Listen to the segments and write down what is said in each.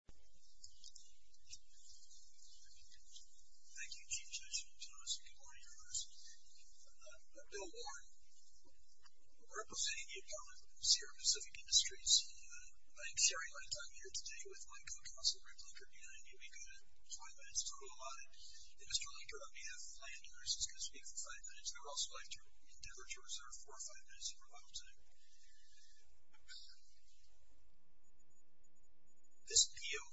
Thank you, Chief Judicial Officer. Good morning, Your Honors. I'm Bill Warren, representing the Department of the Sierra Pacific Industries. I am sharing my time here today with my co-counsel, Rick Linker, and I knew we could have five minutes total, a lot of it. And Mr. Linker, on behalf of the landowners, is going to speak for five minutes, and I would also like to reserve four or five minutes for a lot of time. This appeal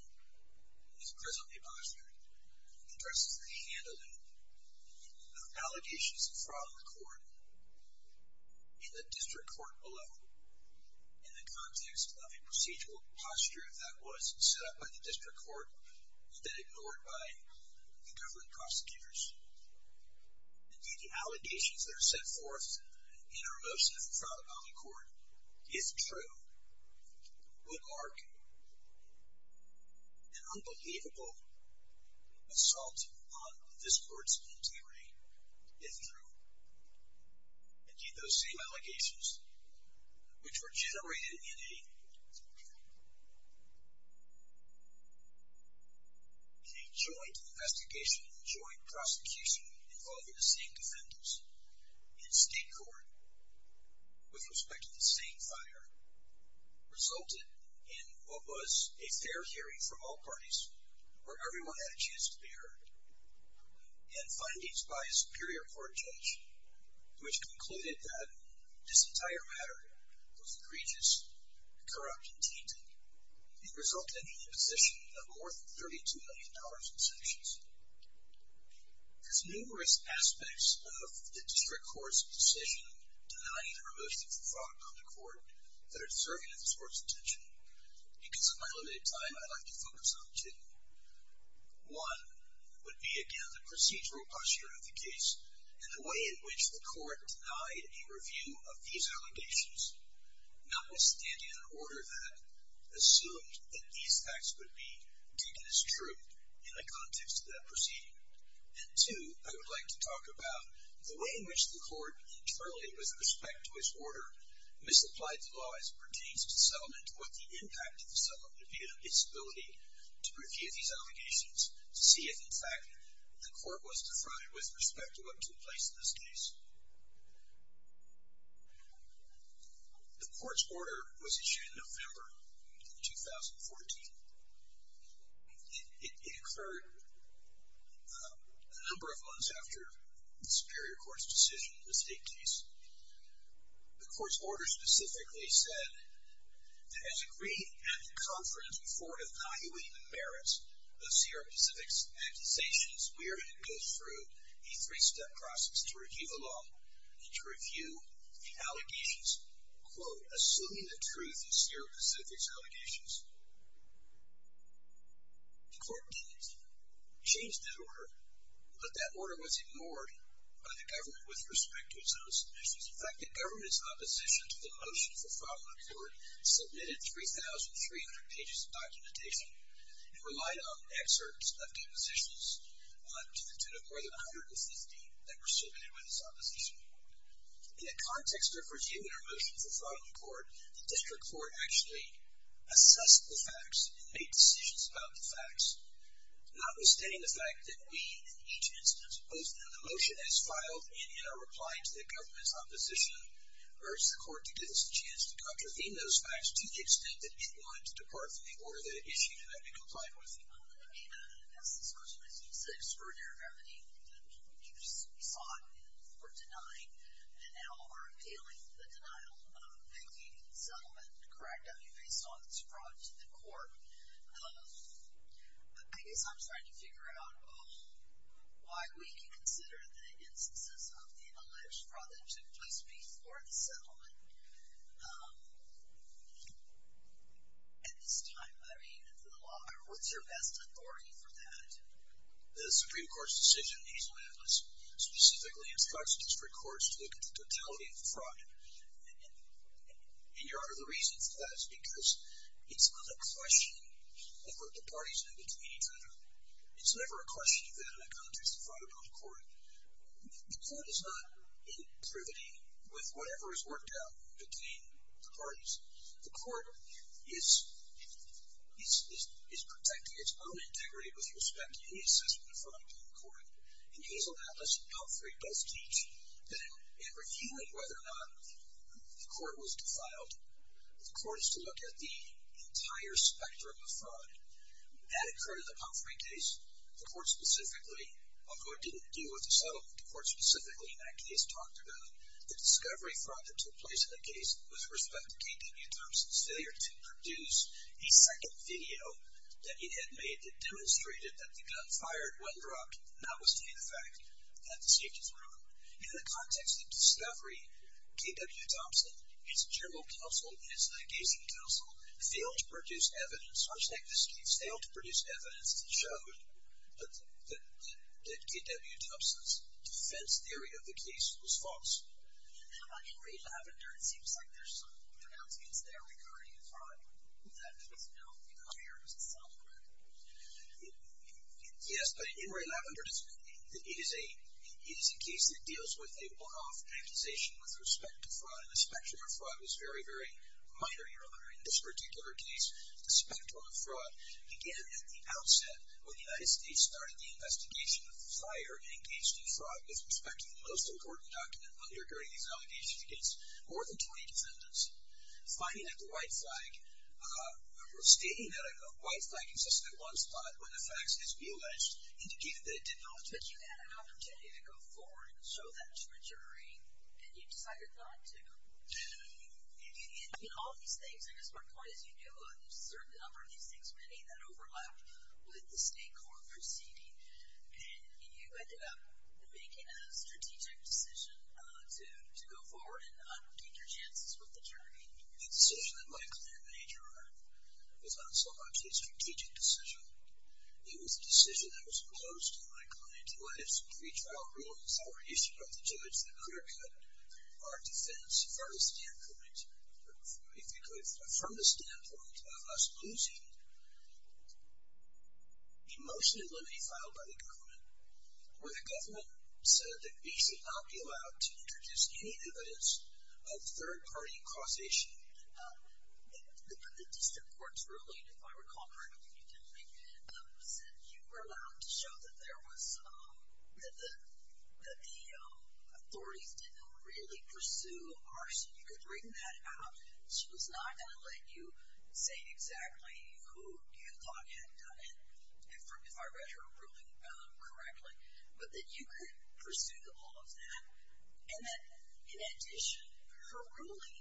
is presently postured and addresses the handling of allegations from the court in the district court below, in the context of a procedural posture that was set up by the district court and then ignored by the government prosecutors. Indeed, the allegations that are set forth in a remotion of the Trout Valley Court, if true, would mark an unbelievable assault on this court's integrity, if true. Indeed, those same allegations, which were generated in a joint investigation, joint prosecution involving the same defendants in state court with respect to the same fire, resulted in what was a fair hearing from all parties where everyone had a chance to be and findings by a superior court judge, which concluded that this entire matter was egregious, corrupt, and tainted, and resulted in the position of more than $32 million in sanctions. There's numerous aspects of the district court's decision denying a remotion for fraud on the court that are deserving of this court's attention. Because of my limited time, I'd like to focus on two. One would be, again, the procedural posture of the case and the way in which the court denied a review of these allegations, notwithstanding an order that assumed that these facts would be taken as true in the context of that proceeding. And two, I would like to talk about the way in which the court internally, with respect to its order, misapplied the law as it pertains to settlement or the impact of the settlement, be it on its ability to review these allegations to see if, in fact, the court was defrauded with respect to what took place in this case. The court's order was issued in November of 2014. It occurred a number of months after the Superior Court's decision in the state case. The court's order specifically said that as agreed at the conference before evaluating the merits of Sierra Pacific's accusations, we are to go through a three-step process to review the law and to review the allegations, quote, assuming the truth of Sierra Pacific's allegations. The court didn't change that order. The order was ignored by the government with respect to its own submissions. In fact, the government's opposition to the motion for fraud on the court submitted 3,300 pages of documentation. It relied on excerpts of depositions to the tune of more than 150 that were submitted by this opposition. In the context of reviewing our motion for fraud on the court, the district court actually assessed the facts and made decisions about the facts, notwithstanding the fact that we, in each instance, both in the motion as filed and in our reply to the government's opposition, urged the court to give us a chance to contravene those facts to the extent that it wanted to depart from the order that it issued and that we complied with it. I'm going to make an assessment. First of all, it's a serious burden of remedy. We saw it in the court denying, and now are appealing the denial of the settlement. Correct. I mean, based on this fraud to the court, I guess I'm starting to figure out why we can consider the instances of the alleged fraud that took place before the settlement. At this time, I mean, for the law, what's your best authority for that? The Supreme Court's decision, these amendments, specifically instructs district courts to look at the totality of the fraud, and your other reasons for that is because it's not a question of what the parties did between each other. It's never a question of that in the context of fraud upon the court. The court is not in privity with whatever is worked out between the parties. The court is protecting its own integrity with respect to any assessment of fraud to the court, and Hazel Atlas and Humphrey both teach that in reviewing whether or not the court was defiled, the court is to look at the entire spectrum of fraud. That occurred in the Humphrey case. The court specifically, although it didn't deal with the settlement, the court specifically in that case talked about the discovery fraud that took place in the case with respect to K.W. Thompson's failure to produce a second video that he had made that demonstrated that the gun fired when dropped, and that was to be the fact that the safety was ruined. In the context of discovery, K.W. Thompson, his general counsel, his adjacent counsel, failed to produce evidence, or technically failed to produce evidence that showed that K.W. Thompson's defense theory of the case was false. In Ray Lavender, it seems like there's some pronouncements there regarding fraud. Does that mean there's no higher self-criticism? Yes, but in Ray Lavender, it is a case that deals with a one-off accusation with respect to fraud, and the spectrum of fraud is very, very minor, Your Honor. In this particular case, the spectrum of fraud began at the outset when the United States started the investigation of the fire engaged in fraud with respect to the most important document undergirding these allegations against more than 20 defendants. Finding that the white flag, stating that a white flag existed at one spot when the facts had been alleged indicated that it did not exist. But you had an opportunity to go forward and show that to a jury, and you decided not to. In all these things, I guess my point is you knew a certain number of these things, many that overlapped with the state court proceeding, and you ended up making a strategic decision to go forward and take your chances with the jury. The decision that my client made, Your Honor, was not so much a strategic decision. It was a decision that was opposed to my client's. It was a retrial ruling. It was a reissue of the judge that clear-cut our defense from the standpoint of us losing. Emotion and limity filed by the government, where the government said that BC would not be allowed to introduce any evidence of third-party causation. The district court's ruling, if I recall correctly, you didn't make, said you were allowed to show that there was, that the authorities didn't really pursue arson. You could bring that out. She was not going to let you say exactly who you thought had done it, if I read her ruling correctly, but that you could pursue the law of that, and that in addition, her ruling,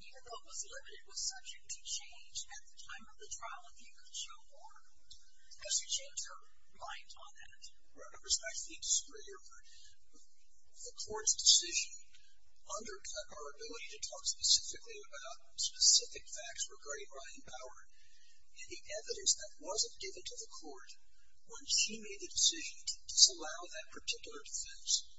even though it was limited, was subject to change at the time of the trial if you could show more. So she changed her mind on that. Your Honor, the court's decision undercut our ability to talk specifically about specific facts regarding Ryan Bauer, and the evidence that wasn't given to the court when she made the decision to disallow that particular defense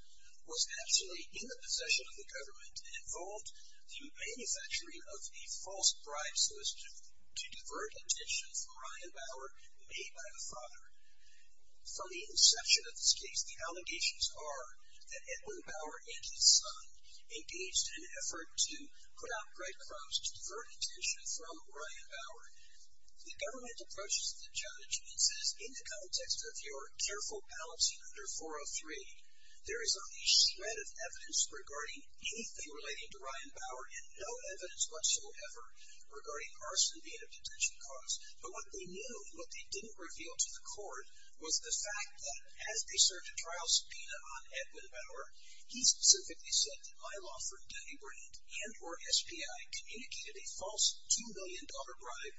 was actually in the possession of the government and involved the manufacturing of a false bribe solicitation to divert attention from Ryan Bauer. From the inception of this case, the allegations are that Edwin Bauer and his son engaged in an effort to put out breadcrumbs to divert attention from Ryan Bauer. The government approaches the challenge and says, in the context of your careful balancing under 403, there is only a shred of evidence regarding anything relating to Ryan Bauer and no evidence whatsoever regarding arson being a detention cause. But what they knew, and what they didn't reveal to the court, was the fact that as they served a trial subpoena on Edwin Bauer, he specifically said that my law firm, Denny Brand, and or SPI communicated a false $2 million bribe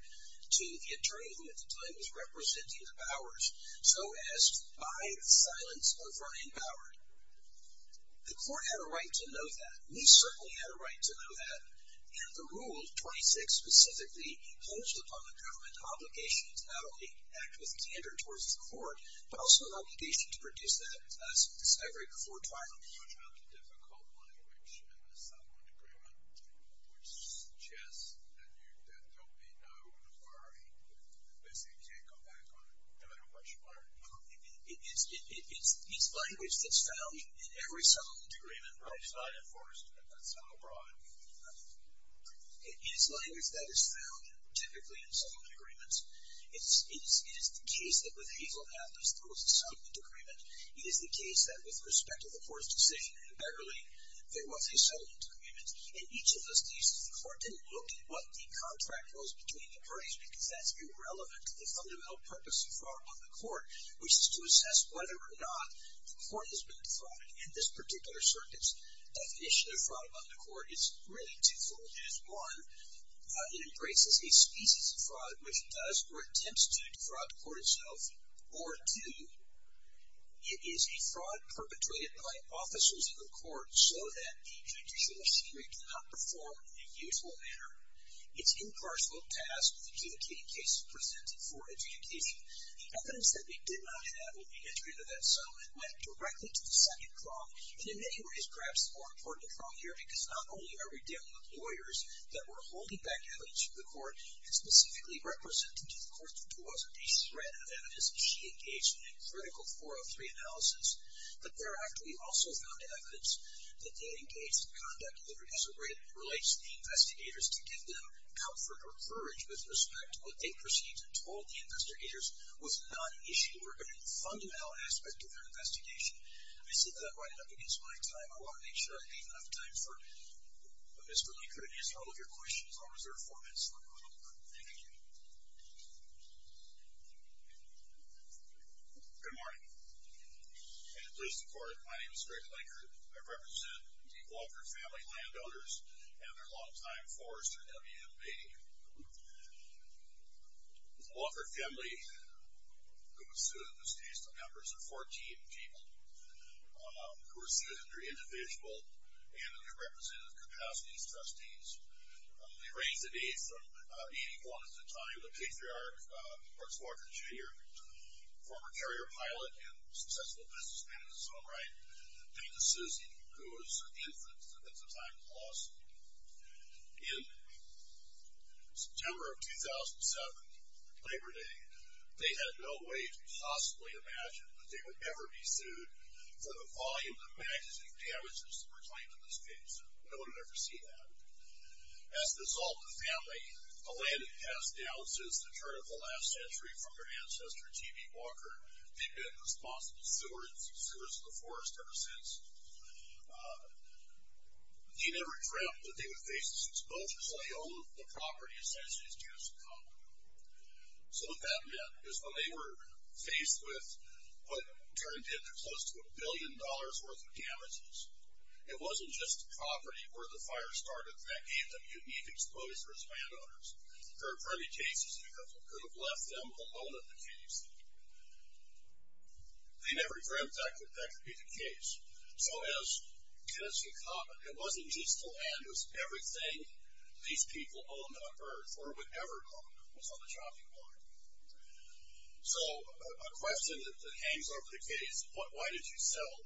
to the attorney who at the time was representing the Bauers, so as to buy the silence of Ryan Bauer. The court had a right to know that. We certainly had a right to know that. And the rule, 26 specifically, imposed upon the government an obligation to not only act with candor towards the court, but also an obligation to produce that discovery before trial. You're talking about the difficult language in the settlement agreement, which suggests that there will be no inquiry. Basically, you can't go back on it, no matter what you find. It's language that's found in every settlement agreement. It's not enforced, but that's not abroad. It is language that is found, typically, in settlement agreements. It is the case that with Hazel Atlas, there was a settlement agreement. It is the case that with respect to the court's decision in Beverly, there was a settlement agreement. In each of those cases, the court didn't look at what the contract was between the parties, because that's irrelevant to the fundamental purpose of fraud upon the court, which is to assess whether or not the court has been defrauding. In this particular circuit's definition of fraud upon the court, it's really twofold. It is, one, it embraces a species of fraud, which does or attempts to defraud the court itself, or two, it is a fraud perpetrated by officers of the court so that the judicial assembly cannot perform in a useful manner. It's impartial, passed, and the adjudicating case is presented for adjudication. The evidence that we did not have when we entered into that settlement went directly to the second prong, and in many ways, perhaps, the more important prong here, because not only are we dealing with lawyers that were holding back evidence from the court and specifically represented to the court, there wasn't a thread of evidence that she engaged in a critical 403 analysis. But thereafter, we also found evidence that they engaged in conduct that relates to the investigators to give them comfort or courage with respect to what they perceived and told the investigators was not an issue or a fundamental aspect of their investigation. I see that I'm running up against my time. I want to make sure I leave enough time for Mr. Laker to answer all of your questions. I'll reserve four minutes for him. Thank you. Good morning, and please support. My name is Greg Laker. I represent the Walker family landowners and their long-time forester, W.M. Bain. The Walker family, who was sued in this case, the members are 14 people who were sued under individual and underrepresented capacities trustees. They range in age from 81 at the time, the patriarch, Mark Walker, Jr., who was an infant at the time of the loss. In September of 2007, Labor Day, they had no way to possibly imagine that they would ever be sued for the volume of magazine damages that were claimed in this case. No one had ever seen that. As a result of the family, the land had passed down since the turn of the last century from their ancestor, T.B. Walker. They've been responsible stewards of the forest ever since. He never dreamt that they would face this exposure, so they owned the property essentially as good as it come. So what that meant is when they were faced with what turned into close to a billion dollars worth of damages, it wasn't just the property where the fire started that gave them unique exposure as landowners. There are plenty of cases you could have left them alone in the case. They never dreamt that that could be the case. So it wasn't just the land, it was everything these people owned on Earth or would ever own was on the chopping block. So a question that hangs over the case, why did you settle?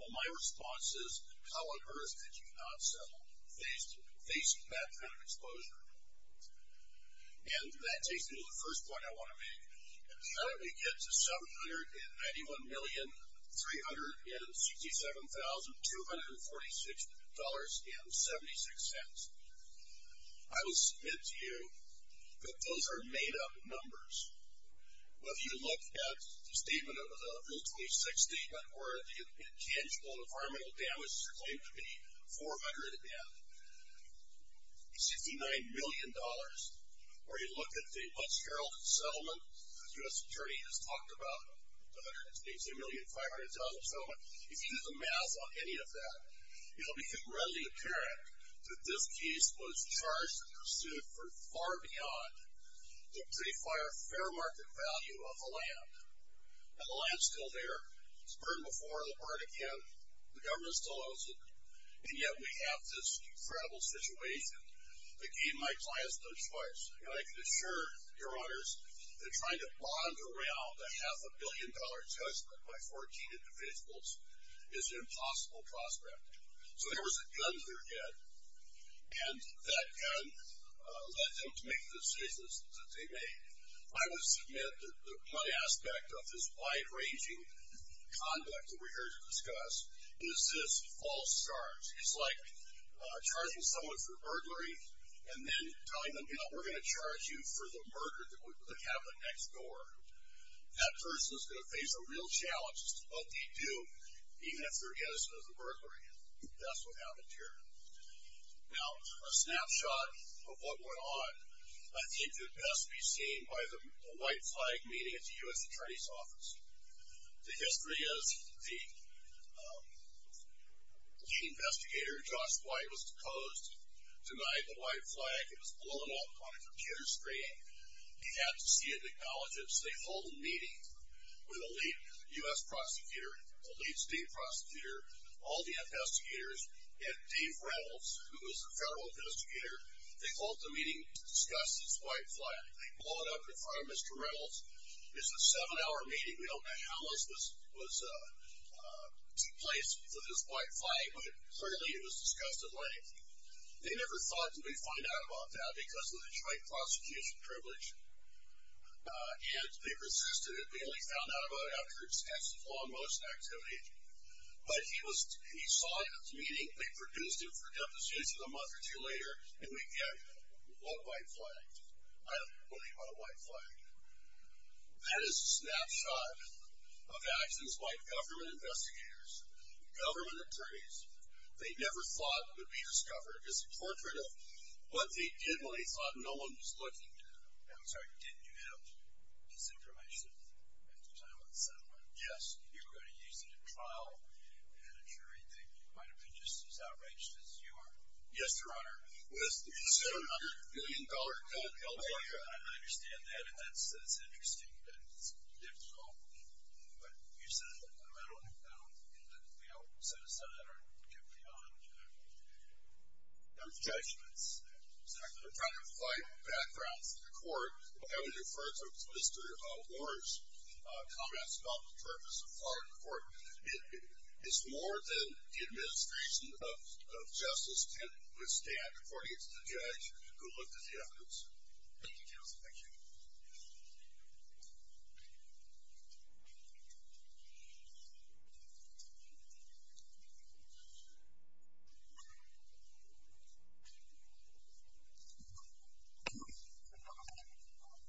Well, my response is, how on Earth did you not settle? How did you not face that kind of exposure? And that takes me to the first point I want to make. How did we get to $791,367,246.76? I will submit to you that those are made-up numbers. If you look at the statement, the 2006 statement, where the potential environmental damage is claimed to be $400 million, $69 million where you look at the once-heralded settlement, as the U.S. Attorney has talked about, the $118,500,000 settlement, if you do the math on any of that, it will become readily apparent that this case was charged and pursued for far beyond the pre-fire fair market value of the land. And the land's still there. It's burned before, it'll burn again. The government still owes it. And yet we have this incredible situation that gave my clients no choice. And I can assure your honors that trying to bond around a half-a-billion-dollar judgment by 14 individuals is an impossible prospect. So there was a gun to their head. And that gun led them to make the decisions that they made. I would submit that one aspect of this wide-ranging conduct that we're here to discuss is this false charge. It's like charging someone for burglary and then telling them, you know, we're going to charge you for the murder that would happen next door. That person is going to face a real challenge. It's what they do even if they're innocent of the burglary. That's what happened here. Now, a snapshot of what went on. I think it best be seen by the white flag meeting at the U.S. Attorney's Office. The history is the investigator, Josh White, was posed, denied the white flag. It was blown up on a computer screen. He had to see it and acknowledge it. So they hold a meeting with a lead U.S. prosecutor, a lead state prosecutor, all the investigators, and Dave Reynolds, who was the federal investigator. They hold the meeting to discuss this white flag. They blow it up in front of Mr. Reynolds. It's a seven-hour meeting. We don't know how much was in place for this white flag, but clearly it was discussed at length. They never thought they would find out about that because of the trite prosecution privilege, and they persisted. They only found out about it after extensive law enforcement activity. But he saw it at the meeting. They produced it for deposition a month or two later, and we get a white flag. I don't believe on a white flag. That is a snapshot of actions by government investigators, government attorneys. They never thought it would be discovered. It's a portrait of what they did when they thought no one was looking. I'm sorry, didn't you have this information at the time of the settlement? Yes. You were going to use it in trial, and a jury thing. You might have been just as outraged as you are. Yes, Your Honor. It's a $700 million bill. I understand that, and that's interesting, and it's difficult. But you said that the metal had been found in the mail, so the Senate aren't guilty on those judgments. They're trying to find backgrounds in the court. I would refer to Mr. Warren's comments about the purpose of foreign court. It's more than the administration of justice can withstand, according to the judge who looked at the evidence. Thank you, counsel. Thank you. Thank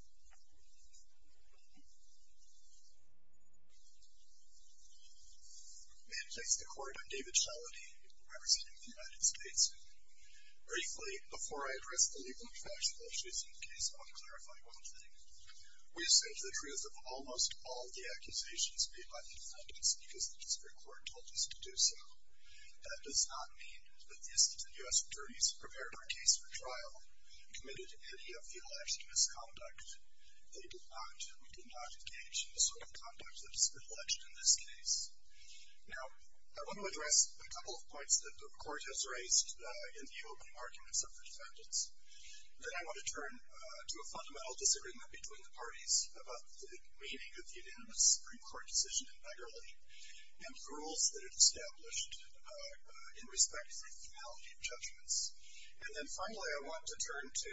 you, Your Honor. May it please the Court, I'm David Shalady, representing the United States. Briefly, before I address the legal and factual issues in the case, I want to clarify one thing. We've said the truth of almost all the accusations made by the defendants because the district court told us to do so. That does not mean that the Institute of U.S. Attorneys prepared our case for trial and committed any of the alleged misconduct. They did not. We did not engage in the sort of conduct that has been alleged in this case. Now, I want to address a couple of points that the Court has raised in the opening arguments of the defendants. Then I want to turn to a fundamental disagreement between the parties about the meaning of the unanimous Supreme Court decision in Begerle and the rules that it established in respect to the finality of judgments. And then finally, I want to turn to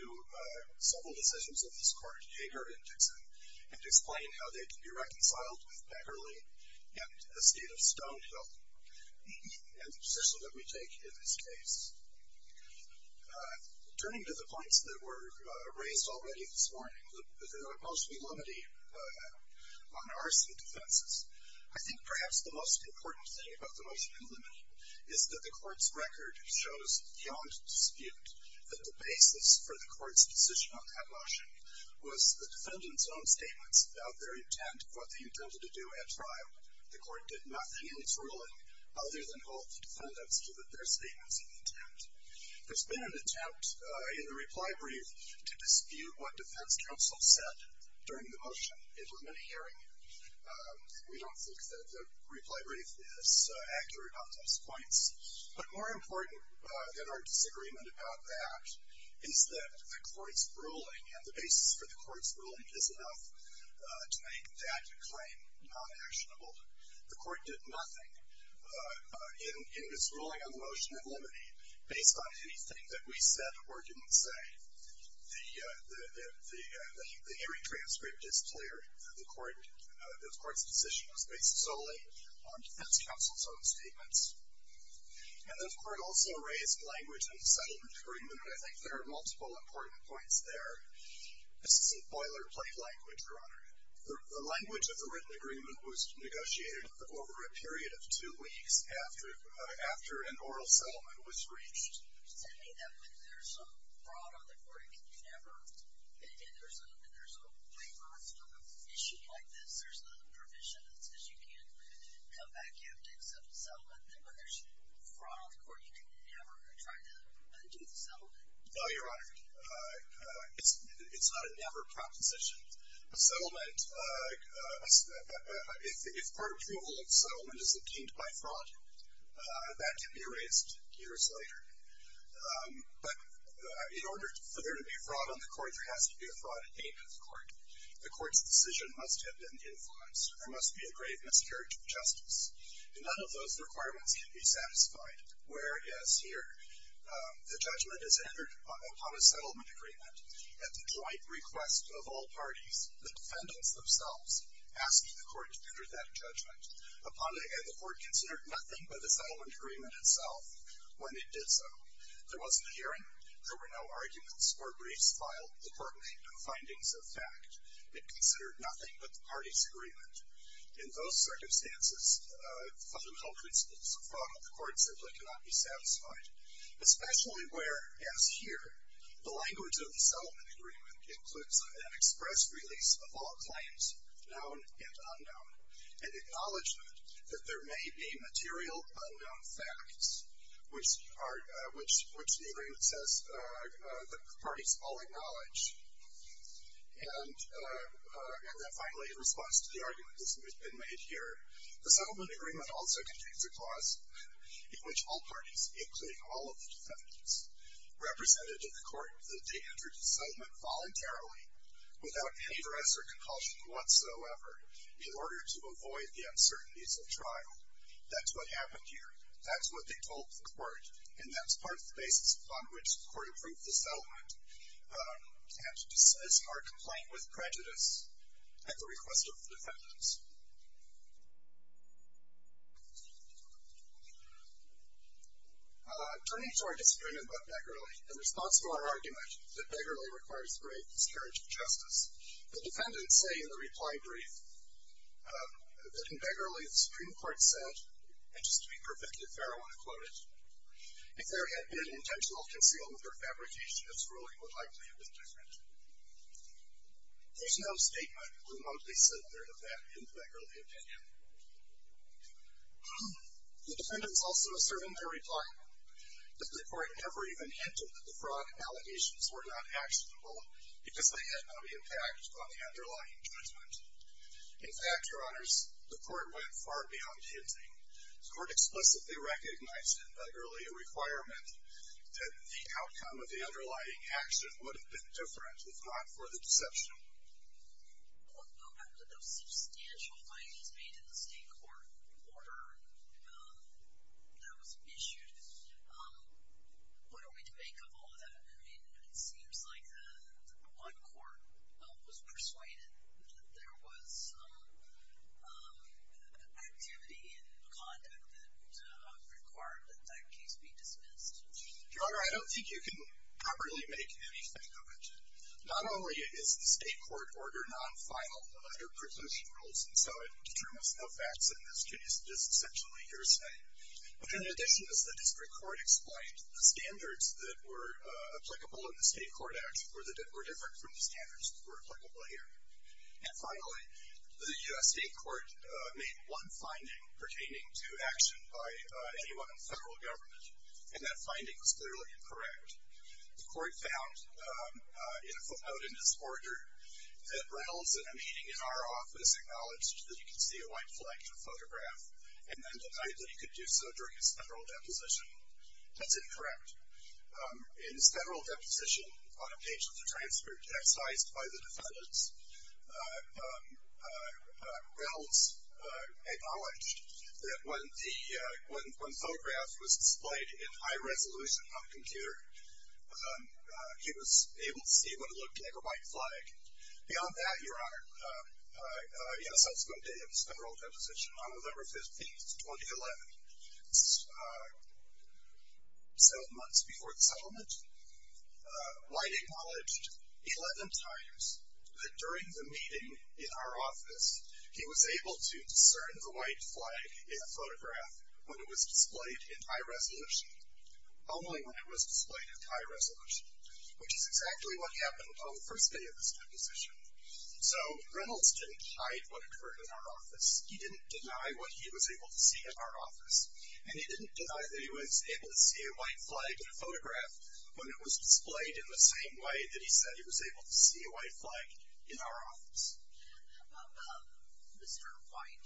several decisions of this Court, Hager and Dixon, and explain how they can be reconciled with Begerle and the State of Stonehill and the position that we take in this case. Turning to the points that were raised already this morning, the motion in limine on arson defenses, I think perhaps the most important thing about the motion in limine is that the Court's record shows beyond dispute that the basis for the Court's position on that motion was the defendants' own statements about their intent, what they intended to do at trial. The Court did nothing in its ruling other than hold the defendants to their statements of intent. There's been an attempt in the reply brief to dispute what defense counsel said during the motion in limine hearing. We don't think that the reply brief is accurate on those points. But more important than our disagreement about that is that the Court's ruling and the basis for the Court's ruling is enough to make that claim non-actionable. The Court did nothing in its ruling on the motion in limine based on anything that we said or didn't say. The hearing transcript is clear. The Court's decision was based solely on defense counsel's own statements. And the Court also raised language in the settlement agreement. I think there are multiple important points there. This isn't boilerplate language, Your Honor. The language of the written agreement was negotiated over a period of two weeks after an oral settlement was reached. You're saying that when there's a fraud on the Court, you can never, and there's a waiver on an issue like this, there's a provision that says you can't come back in and accept a settlement, that when there's fraud on the Court, you can never try to undo the settlement? No, Your Honor. It's not a never proposition. A settlement, if part approval of settlement is obtained by fraud, that can be erased years later. But in order for there to be fraud on the Court, there has to be a fraud in the name of the Court. The Court's decision must have been influenced or must be a grave miscarriage of justice. And none of those requirements can be satisfied, whereas here the judgment is entered upon a settlement agreement at the joint request of all parties, the defendants themselves asking the Court to enter that judgment. Upon the end, the Court considered nothing but the settlement agreement itself. When it did so, there wasn't a hearing. There were no arguments or briefs filed. The Court made no findings of fact. It considered nothing but the parties' agreement. In those circumstances, fundamental principles of fraud on the Court simply cannot be satisfied, especially where, as here, the language of the settlement agreement includes an express release of all claims, known and unknown, and acknowledgment that there may be material unknown facts, which the agreement says the parties all acknowledge. And finally, in response to the argument that's been made here, the settlement agreement also contains a clause in which all parties, including all of the defendants, represented to the Court that they entered the settlement voluntarily, without any duress or compulsion whatsoever, in order to avoid the uncertainties of trial. That's what happened here. That's what they told the Court. And that's part of the basis upon which the Court approved the settlement and dismissed our complaint with prejudice at the request of the defendants. Turning to our disagreement about Begerle, that Begerle requires great discourage of justice, the defendants say in the reply brief that in Begerle, the Supreme Court said, and just to be perfectly fair, I want to quote it, if there had been an intentional concealment or fabrication, its ruling would likely have been different. There's no statement from what they said there of that in Begerle opinion. The defendants also assert in their reply that the Court never even hinted that the fraud allegations were not actionable because they had no impact on the underlying judgment. In fact, Your Honors, the Court went far beyond hinting. The Court explicitly recognized in that earlier requirement that the outcome of the underlying action would have been different if not for the deception. Well, after those substantial findings made in the State Court order that was issued, what are we to make of all of that? I mean, it seems like one court was persuaded that there was activity in conduct that required that that case be dismissed. Your Honor, I don't think you can properly make anything of it. Not only is the State Court order non-final under presumption rules, and so it determines no facts in this case. It is essentially hearsay. But in addition, as the District Court explained, the standards that were applicable in the State Court Act were different from the standards that were applicable here. And finally, the U.S. State Court made one finding pertaining to action by anyone in federal government, and that finding was clearly incorrect. The Court found in a footnote in this order that Reynolds, in a meeting in our office, acknowledged that he could see a white flag in a photograph and then denied that he could do so during his federal deposition. That's incorrect. In his federal deposition, on a page of the transcript textilized by the defendants, Reynolds acknowledged that when the photograph was displayed in high resolution on a computer, he was able to see what looked like a white flag. Beyond that, Your Honor, in a subsequent day of his federal deposition, on November 15th, 2011, seven months before the settlement, White acknowledged 11 times that during the meeting in our office, he was able to discern the white flag in a photograph when it was displayed in high resolution, only when it was displayed in high resolution, which is exactly what happened on the first day of his deposition. So Reynolds didn't hide what occurred in our office. He didn't deny what he was able to see in our office. And he didn't deny that he was able to see a white flag in a photograph when it was displayed in the same way that he said he was able to see a white flag in our office. Mr. White,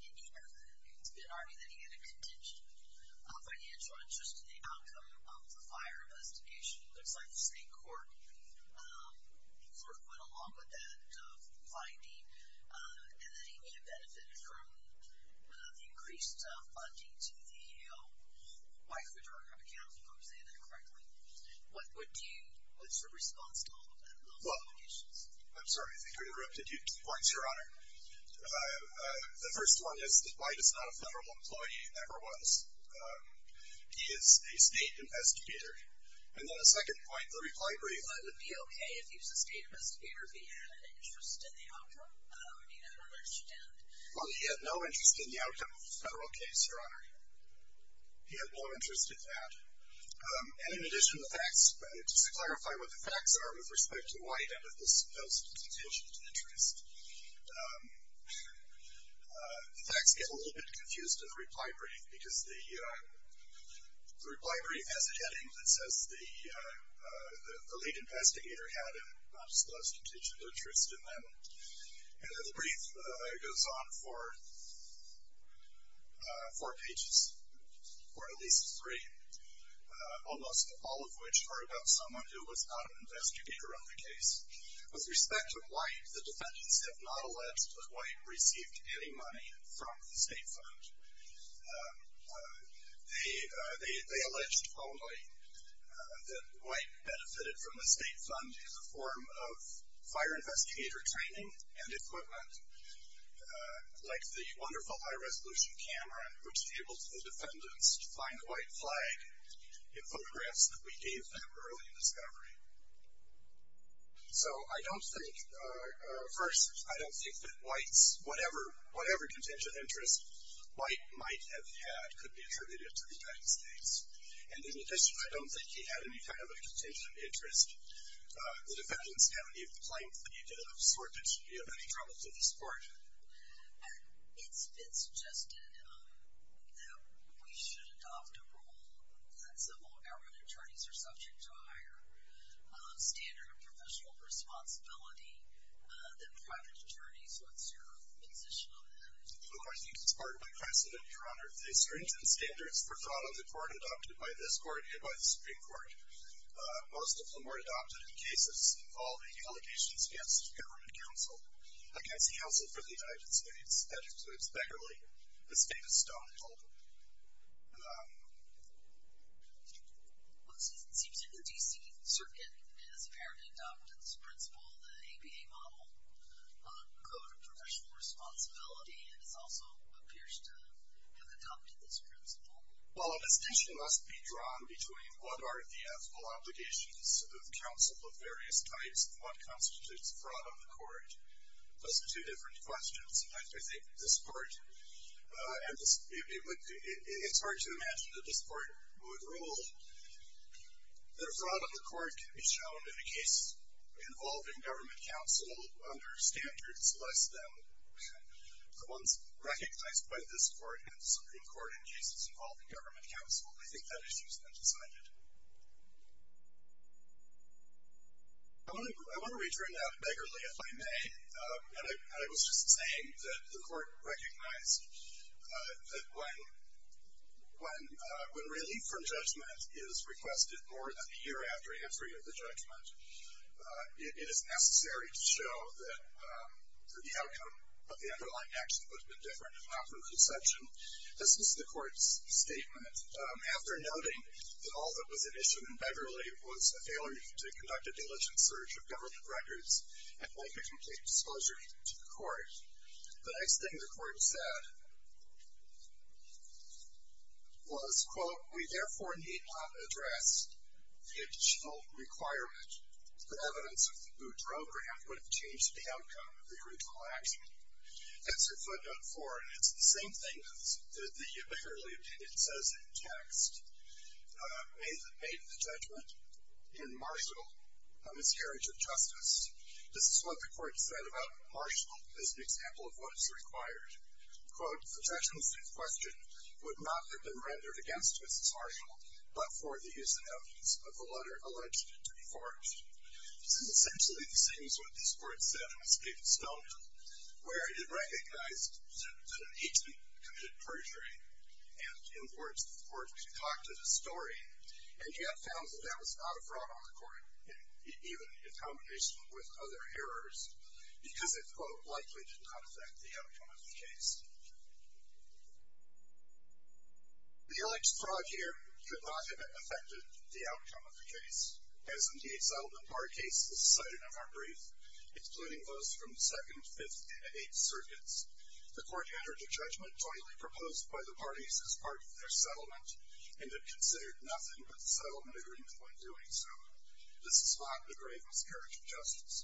in here, it's been argued that he had a contingent financial interest in the outcome of the fire investigation. It looks like the state court sort of went along with that finding. And that he made a benefit from the increased funding to the white photograph accounts, if I'm saying that correctly. What's your response to all of that? Well, I'm sorry, I think I interrupted you twice, Your Honor. The first one is that White is not a federal employee. He never was. He is a state investigator. And then the second point, the reply brief... Would it be okay if he was a state investigator if he had an interest in the outcome? I don't understand. Well, he had no interest in the outcome of the federal case, Your Honor. He had no interest in that. And in addition, the facts... Just to clarify what the facts are with respect to White and with this post-contingent interest. The facts get a little bit confused in the reply brief because the reply brief has a heading that says the lead investigator had an obscure contingent interest in them. And the brief goes on for four pages. Or at least three. Almost all of which are about someone who was not an investigator on the case. With respect to White, the defendants have not alleged that White received any money from the state fund. They alleged only that White benefited from the state fund in the form of fire investigator training and equipment, like the wonderful high-resolution camera which tabled the defendants to find the White flag in photographs that we gave them early in discovery. So I don't think... First, I don't think that White's... Whatever contingent interest, White might have had could be attributed to the United States. And in addition, I don't think he had any kind of a contingent interest. The defendants have not even claimed that he did have any sort of trouble to this court. It's been suggested that we should adopt a rule that civil government attorneys are subject to a higher standard of professional responsibility than private attorneys. What's your position on that? Well, I think it's partly precedent, Your Honor. The stringent standards were thought of in the court adopted by this court and by the Supreme Court. Most of them were adopted in cases involving allegations against government counsel, against counsel for the United States, that includes Beckerley, the state of Stonehill. Well, it seems that the D.C. Circuit has apparently adopted this principle, the ABA model, code of professional responsibility, and it also appears to have adopted this principle. Well, a distinction must be drawn between what are the ethical obligations of counsel of various types and what constitutes fraud on the court. Those are two different questions. Sometimes I think this court... It's hard to imagine that this court would rule that fraud on the court can be shown in a case involving government counsel under standards less than the ones recognized by this court and the Supreme Court in cases involving government counsel. I think that issue's been decided. I want to return now to Beckerley, if I may. And I was just saying that the court recognized that when relief from judgment is requested more than a year after entry of the judgment, it is necessary to show that the outcome of the underlying action would have been different if not for conception. This is the court's statement. After noting that all that was at issue in Beckerley was a failure to conduct a diligent search of government records and make a complete disclosure to the court, the next thing the court said was, "...we therefore need not address the additional requirement that evidence of the Boudreau grant would have changed the outcome of the original action." That's her footnote 4, and it's the same thing that the Beckerley opinion says in text. May the... May the judgment in Marshall misscarriage of justice. This is what the court said about Marshall as an example of what is required. Quote, "...suggestions in question would not have been rendered against Mrs. Marshall but for the use of evidence of the letter alleged to be forged." This is essentially the same as what this court said when speaking to Spelman, where it recognized that an agent committed perjury. And in words, the court concocted a story and yet found that that was not a fraud on the court, even in combination with other errors, because it, quote, "...likely did not affect the outcome of the case." The alleged fraud here could not have affected the outcome of the case. As in the 8th Settlement Bar case, this is cited in our brief, excluding those from the 2nd, 5th, and 8th circuits. The court entered a judgment jointly proposed by the parties as part of their settlement and had considered nothing but the settlement agreement when doing so. This is not a grave miscarriage of justice.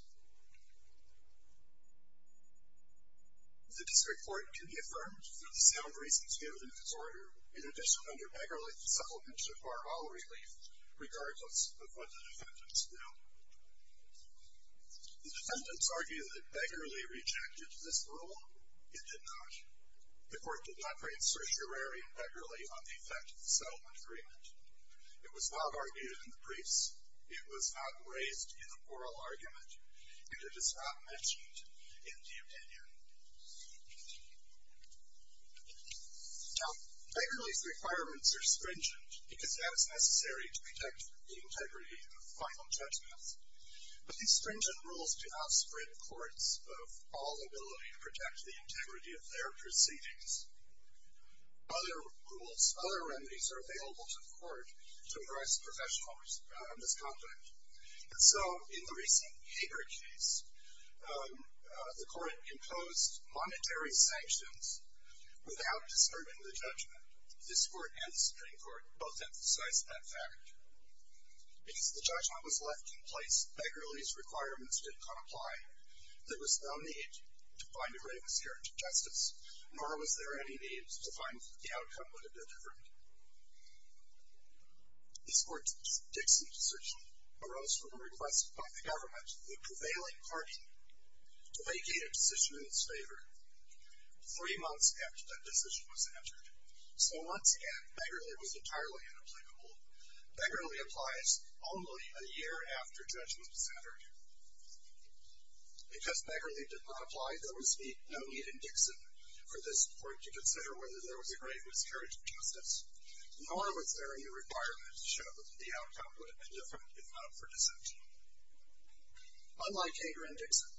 The district court can be affirmed through the sound reasons given in this order. In addition, under Begerle, the settlement should require all relief, regardless of what the defendants do. The defendants argue that Begerle rejected this rule. It did not. The court did not bring certiorari in Begerle on the effect of the settlement agreement. It was not argued in the briefs. It was not raised in the oral argument. And it is not mentioned in the opinion. Now, Begerle's requirements are stringent because that is necessary to protect the integrity of final judgments. But these stringent rules do not spread courts of all ability to protect the integrity of their proceedings. Other rules, other remedies, are available to the court to address professional misconduct. And so, in the recent Hager case, the court imposed monetary sanctions without discerning the judgment. This court and the Supreme Court both emphasized that fact. Because the judgment was left in place, Begerle's requirements did not apply. There was no need to find a grave miscarriage of justice, nor was there any need to find the outcome would have been different. This court's Dixon decision arose from a request by the government, the prevailing party, to vacate a decision in its favor three months after that decision was entered. So, once again, Begerle was entirely inapplicable. Begerle applies only a year after judgment is entered. Because Begerle did not apply, there was no need in Dixon for this court to consider whether there was a grave miscarriage of justice, nor was there any requirement to show that the outcome would have been different, if not for deception. Unlike Hager and Dixon,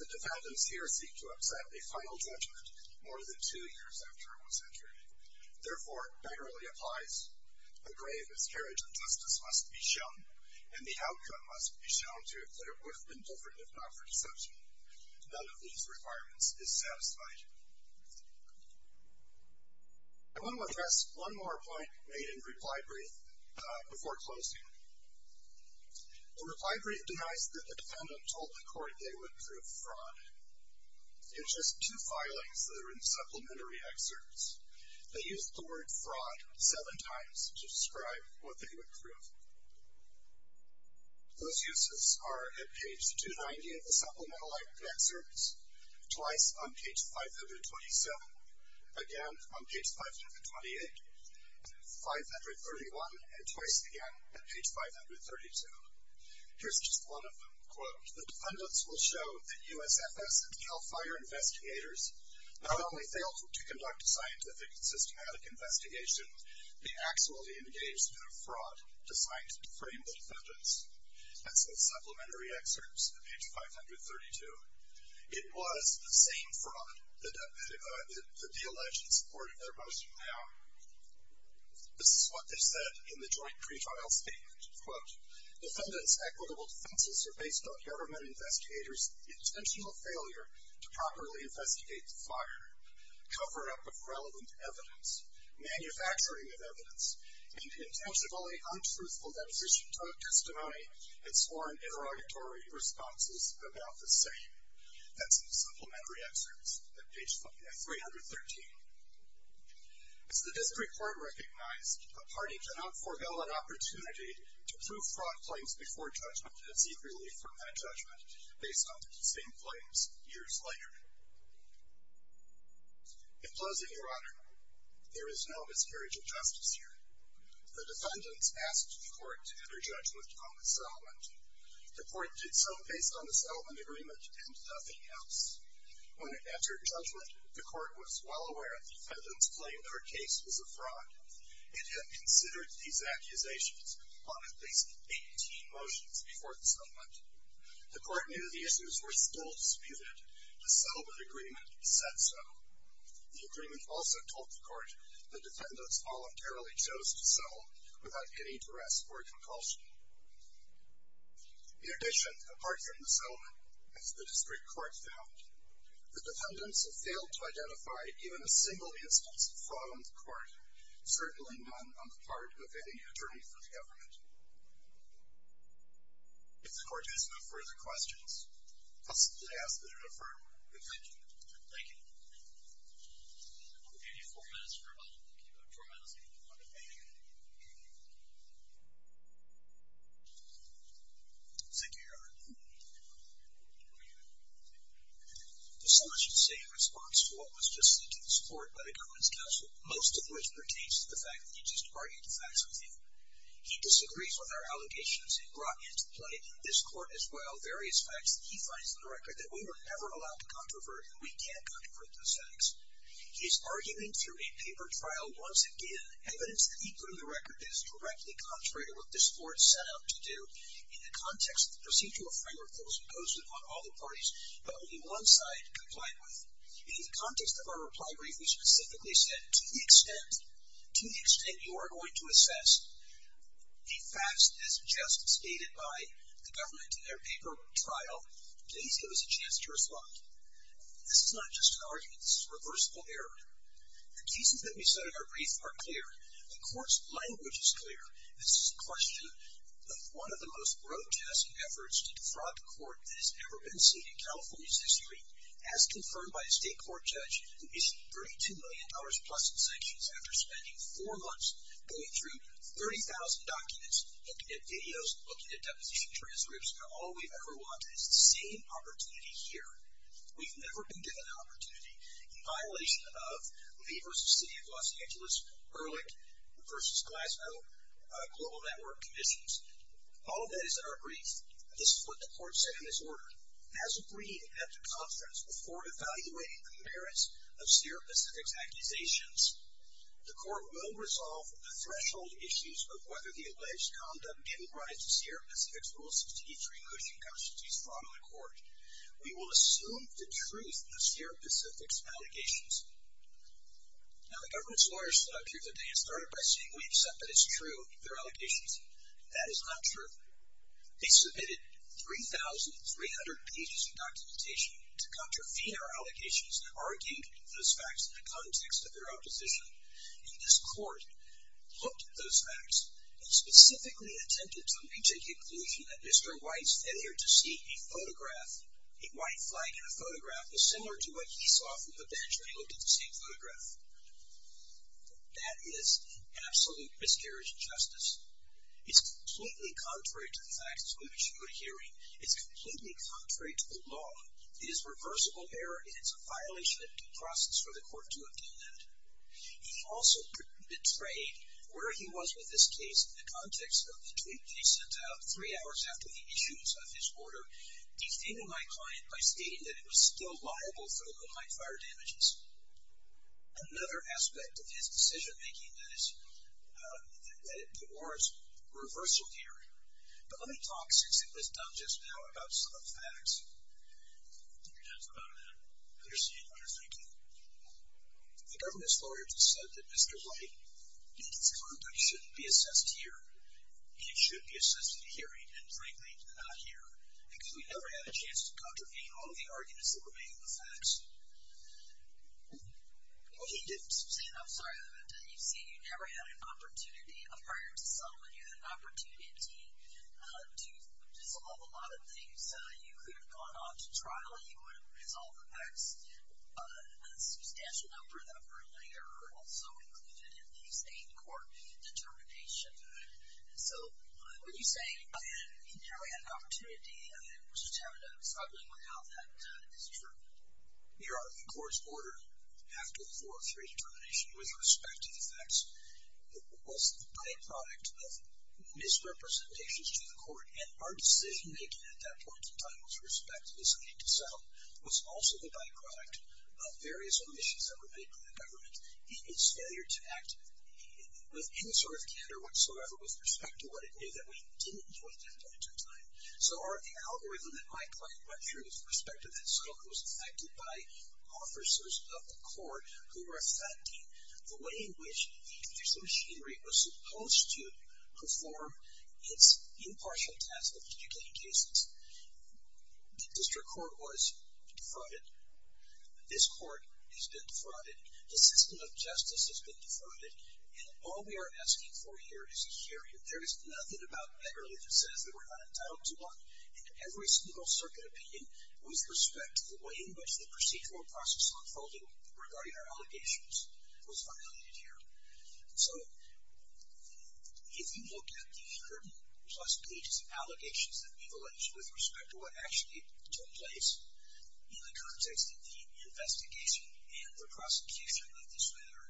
the defendants here seek to upset a final judgment more than two years after it was entered. Therefore, Begerle applies, a grave miscarriage of justice must be shown, and the outcome must be shown to have been different, if not for deception. None of these requirements is satisfied. I want to address one more point made in reply brief before closing. The reply brief denies that the defendant told the court they would prove fraud. In just two filings that are in supplementary excerpts, they use the word fraud seven times to describe what they would prove. Those uses are at page 290 of the supplemental excerpts, twice on page 527, again on page 528, 531, and twice again at page 532. Here's just one of them. The defendants will show that USFS and Cal Fire investigators not only failed to conduct a scientific and systematic investigation, they actually engaged in a fraud designed to frame the defendants. That's in the supplementary excerpts at page 532. It was the same fraud that the alleged supported their motion now. This is what they said in the joint pre-trial statement. Quote, Defendants' equitable defenses are based on government investigators' intentional failure to properly investigate the fire, cover-up of relevant evidence, manufacturing of evidence, and intentionally untruthful deposition of testimony and sworn interrogatory responses about the same. That's in the supplementary excerpts at page 313. As the district court recognized, a party cannot forego an opportunity to prove fraud claims before judgment and seek relief from that judgment based on the same claims years later. In closing, Your Honor, there is no miscarriage of justice here. The defendants asked the court to enter judgment on the settlement. The court did so based on the settlement agreement and nothing else. When it entered judgment, the court was well aware that the defendants claimed their case was a fraud. It had considered these accusations on at least 18 motions before the settlement. The court knew the issues were still disputed. The agreement also told the court that defendants voluntarily chose to settle without any duress or compulsion. In addition, apart from the settlement, as the district court found, the defendants have failed to identify even a single instance of fraud on the court, certainly none on the part of any attorney for the government. If the court has no further questions, I'll simply ask that you defer. Thank you. Thank you. I'm going to give you four minutes for a moment. You have a trial, so you can go on to pay it. Thank you, Your Honor. As someone should say in response to what was just said to this court by the government's counsel, most of which pertains to the fact that he just argued the facts with you. He disagrees with our allegations he brought into play in this court as well, various facts that he finds in the record that we were never allowed to controvert, and we can't controvert those facts. He is arguing through a paper trial once again evidence that he put in the record that is directly contrary to what this court set out to do in the context of the procedural framework that was imposed upon all the parties, but only one side complied with. In the context of our reply brief, we specifically said, to the extent you are going to assess the facts as just stated by the government in their paper trial, please give us a chance to respond. This is not just an argument. This is reversible error. The cases that we said in our brief are clear. The court's language is clear. This is a question of one of the most grotesque efforts to defraud the court that has ever been seen in California's history, as confirmed by a state court judge who issued $32 million plus in sanctions after spending four months going through 30,000 documents, looking at videos, looking at deposition transcripts, and all we've ever wanted is the same opportunity here. We've never been given an opportunity in violation of Lee v. City of Los Angeles, Ehrlich v. Glasgow Global Network Commissions. All of that is in our brief. This is what the court said in this order. As agreed at the conference before evaluating the merits of Sierra Pacific's accusations, the court will resolve the threshold issues of whether the alleged conduct ingrides the Sierra Pacific's Rule 63 cushion constancies from the court. We will assume the truth of Sierra Pacific's allegations. Now, the government's lawyers stood up here today and started by saying we accept that it's true, their allegations. That is not true. They submitted 3,300 pages of documentation to contravene our allegations, arguing those facts in the context of their own decision. And this court looked at those facts and specifically attempted to reach a conclusion that Mr. White's failure to see a photograph, a white flag in a photograph, was similar to what he saw from the bench when he looked at the same photograph. That is an absolute miscarriage of justice. It's completely contrary to the facts with which you are hearing. It's completely contrary to the law. It is reversible error and it's a violation of due process for the court to obtain that. He also betrayed where he was with this case in the context of the tweet that he sent out three hours after the issuance of his order defaming my client by stating that it was still liable for the limelight fire damages. Another aspect of his decision making that it warrants reversal here. But let me talk, since it was done just now, about some of the facts. The government's lawyers have said that Mr. White, in his conduct, shouldn't be assessed here. He should be assessed here and frankly not here because we never had a chance to contravene all of the arguments that were made in the facts. He didn't. I'm sorry. You see, you never had an opportunity prior to settlement. You had an opportunity to resolve a lot of things. You could have gone on to trial. You would have resolved the facts. A substantial number of them were later also included in these eight court determinations. So, when you say you never had an opportunity and it was determined that it was not going to work out, that is true? Your Honor, the court's order after the 403 determination with respect to the facts was the byproduct of misrepresentations to the court and our decision making at that point in time with respect to this need to settle was also the byproduct of various omissions that were made by the government in its failure to act with any sort of candor whatsoever with respect to what it knew that we didn't enjoy at that point in time. So, our algorithm that my client went through with respect to this was affected by officers of the court who were affecting the way in which the use of machinery was supposed to perform its impartial task of educating cases. The district court was defrauded. This court has been defrauded. The system of justice has been defrauded. And all we are asking for here is a hearing. There is nothing about Beverly that says that we're not entitled to one. And every single circuit opinion with respect to the way in which the procedural process unfolded regarding our allegations was violated here. So, if you look at the 100 plus pages of allegations that we've alleged with respect to what actually took place in the context of the investigation and the prosecution of this matter,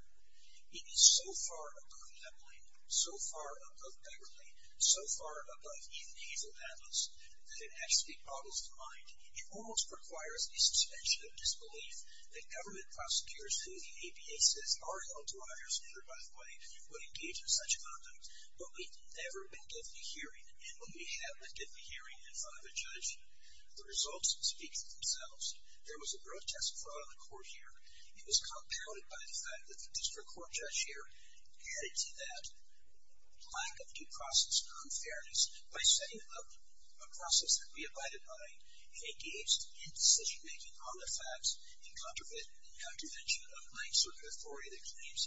it is so far above Beverly, so far above Beverly, so far above even Hazel Atlas, that it actually boggles the mind. It almost requires a suspension of disbelief that government prosecutors who the APA says are held to a higher standard by the way would engage in such conduct when we've never been given a hearing and when we have been given a hearing in front of a judge. The results speak for themselves. There was a protest in front of the court here. It was compounded by the fact that the district court judge here added to that lack of due process unfairness by setting up a process that we abided by and engaged in decision making on the facts in contravention of plain circuit authority that claims,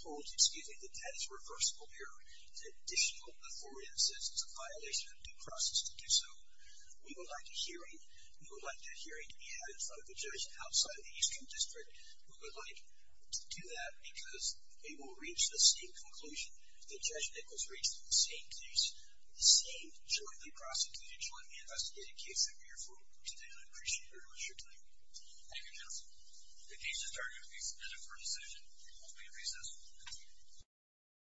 holds, excuse me, that that is reversible error. An additional authority that says it's a violation of due process to do so. We would like a hearing, we would like that hearing to be had in front of the judge outside of the Eastern District. We would like to do that because we will reach the same conclusion that Judge Nichols reached in the same case, the same jointly prosecuted, jointly investigated case and we therefore continue to appreciate very much your time. Thank you, counsel. The case is targeted as a court decision. We will be in recess. Thank you.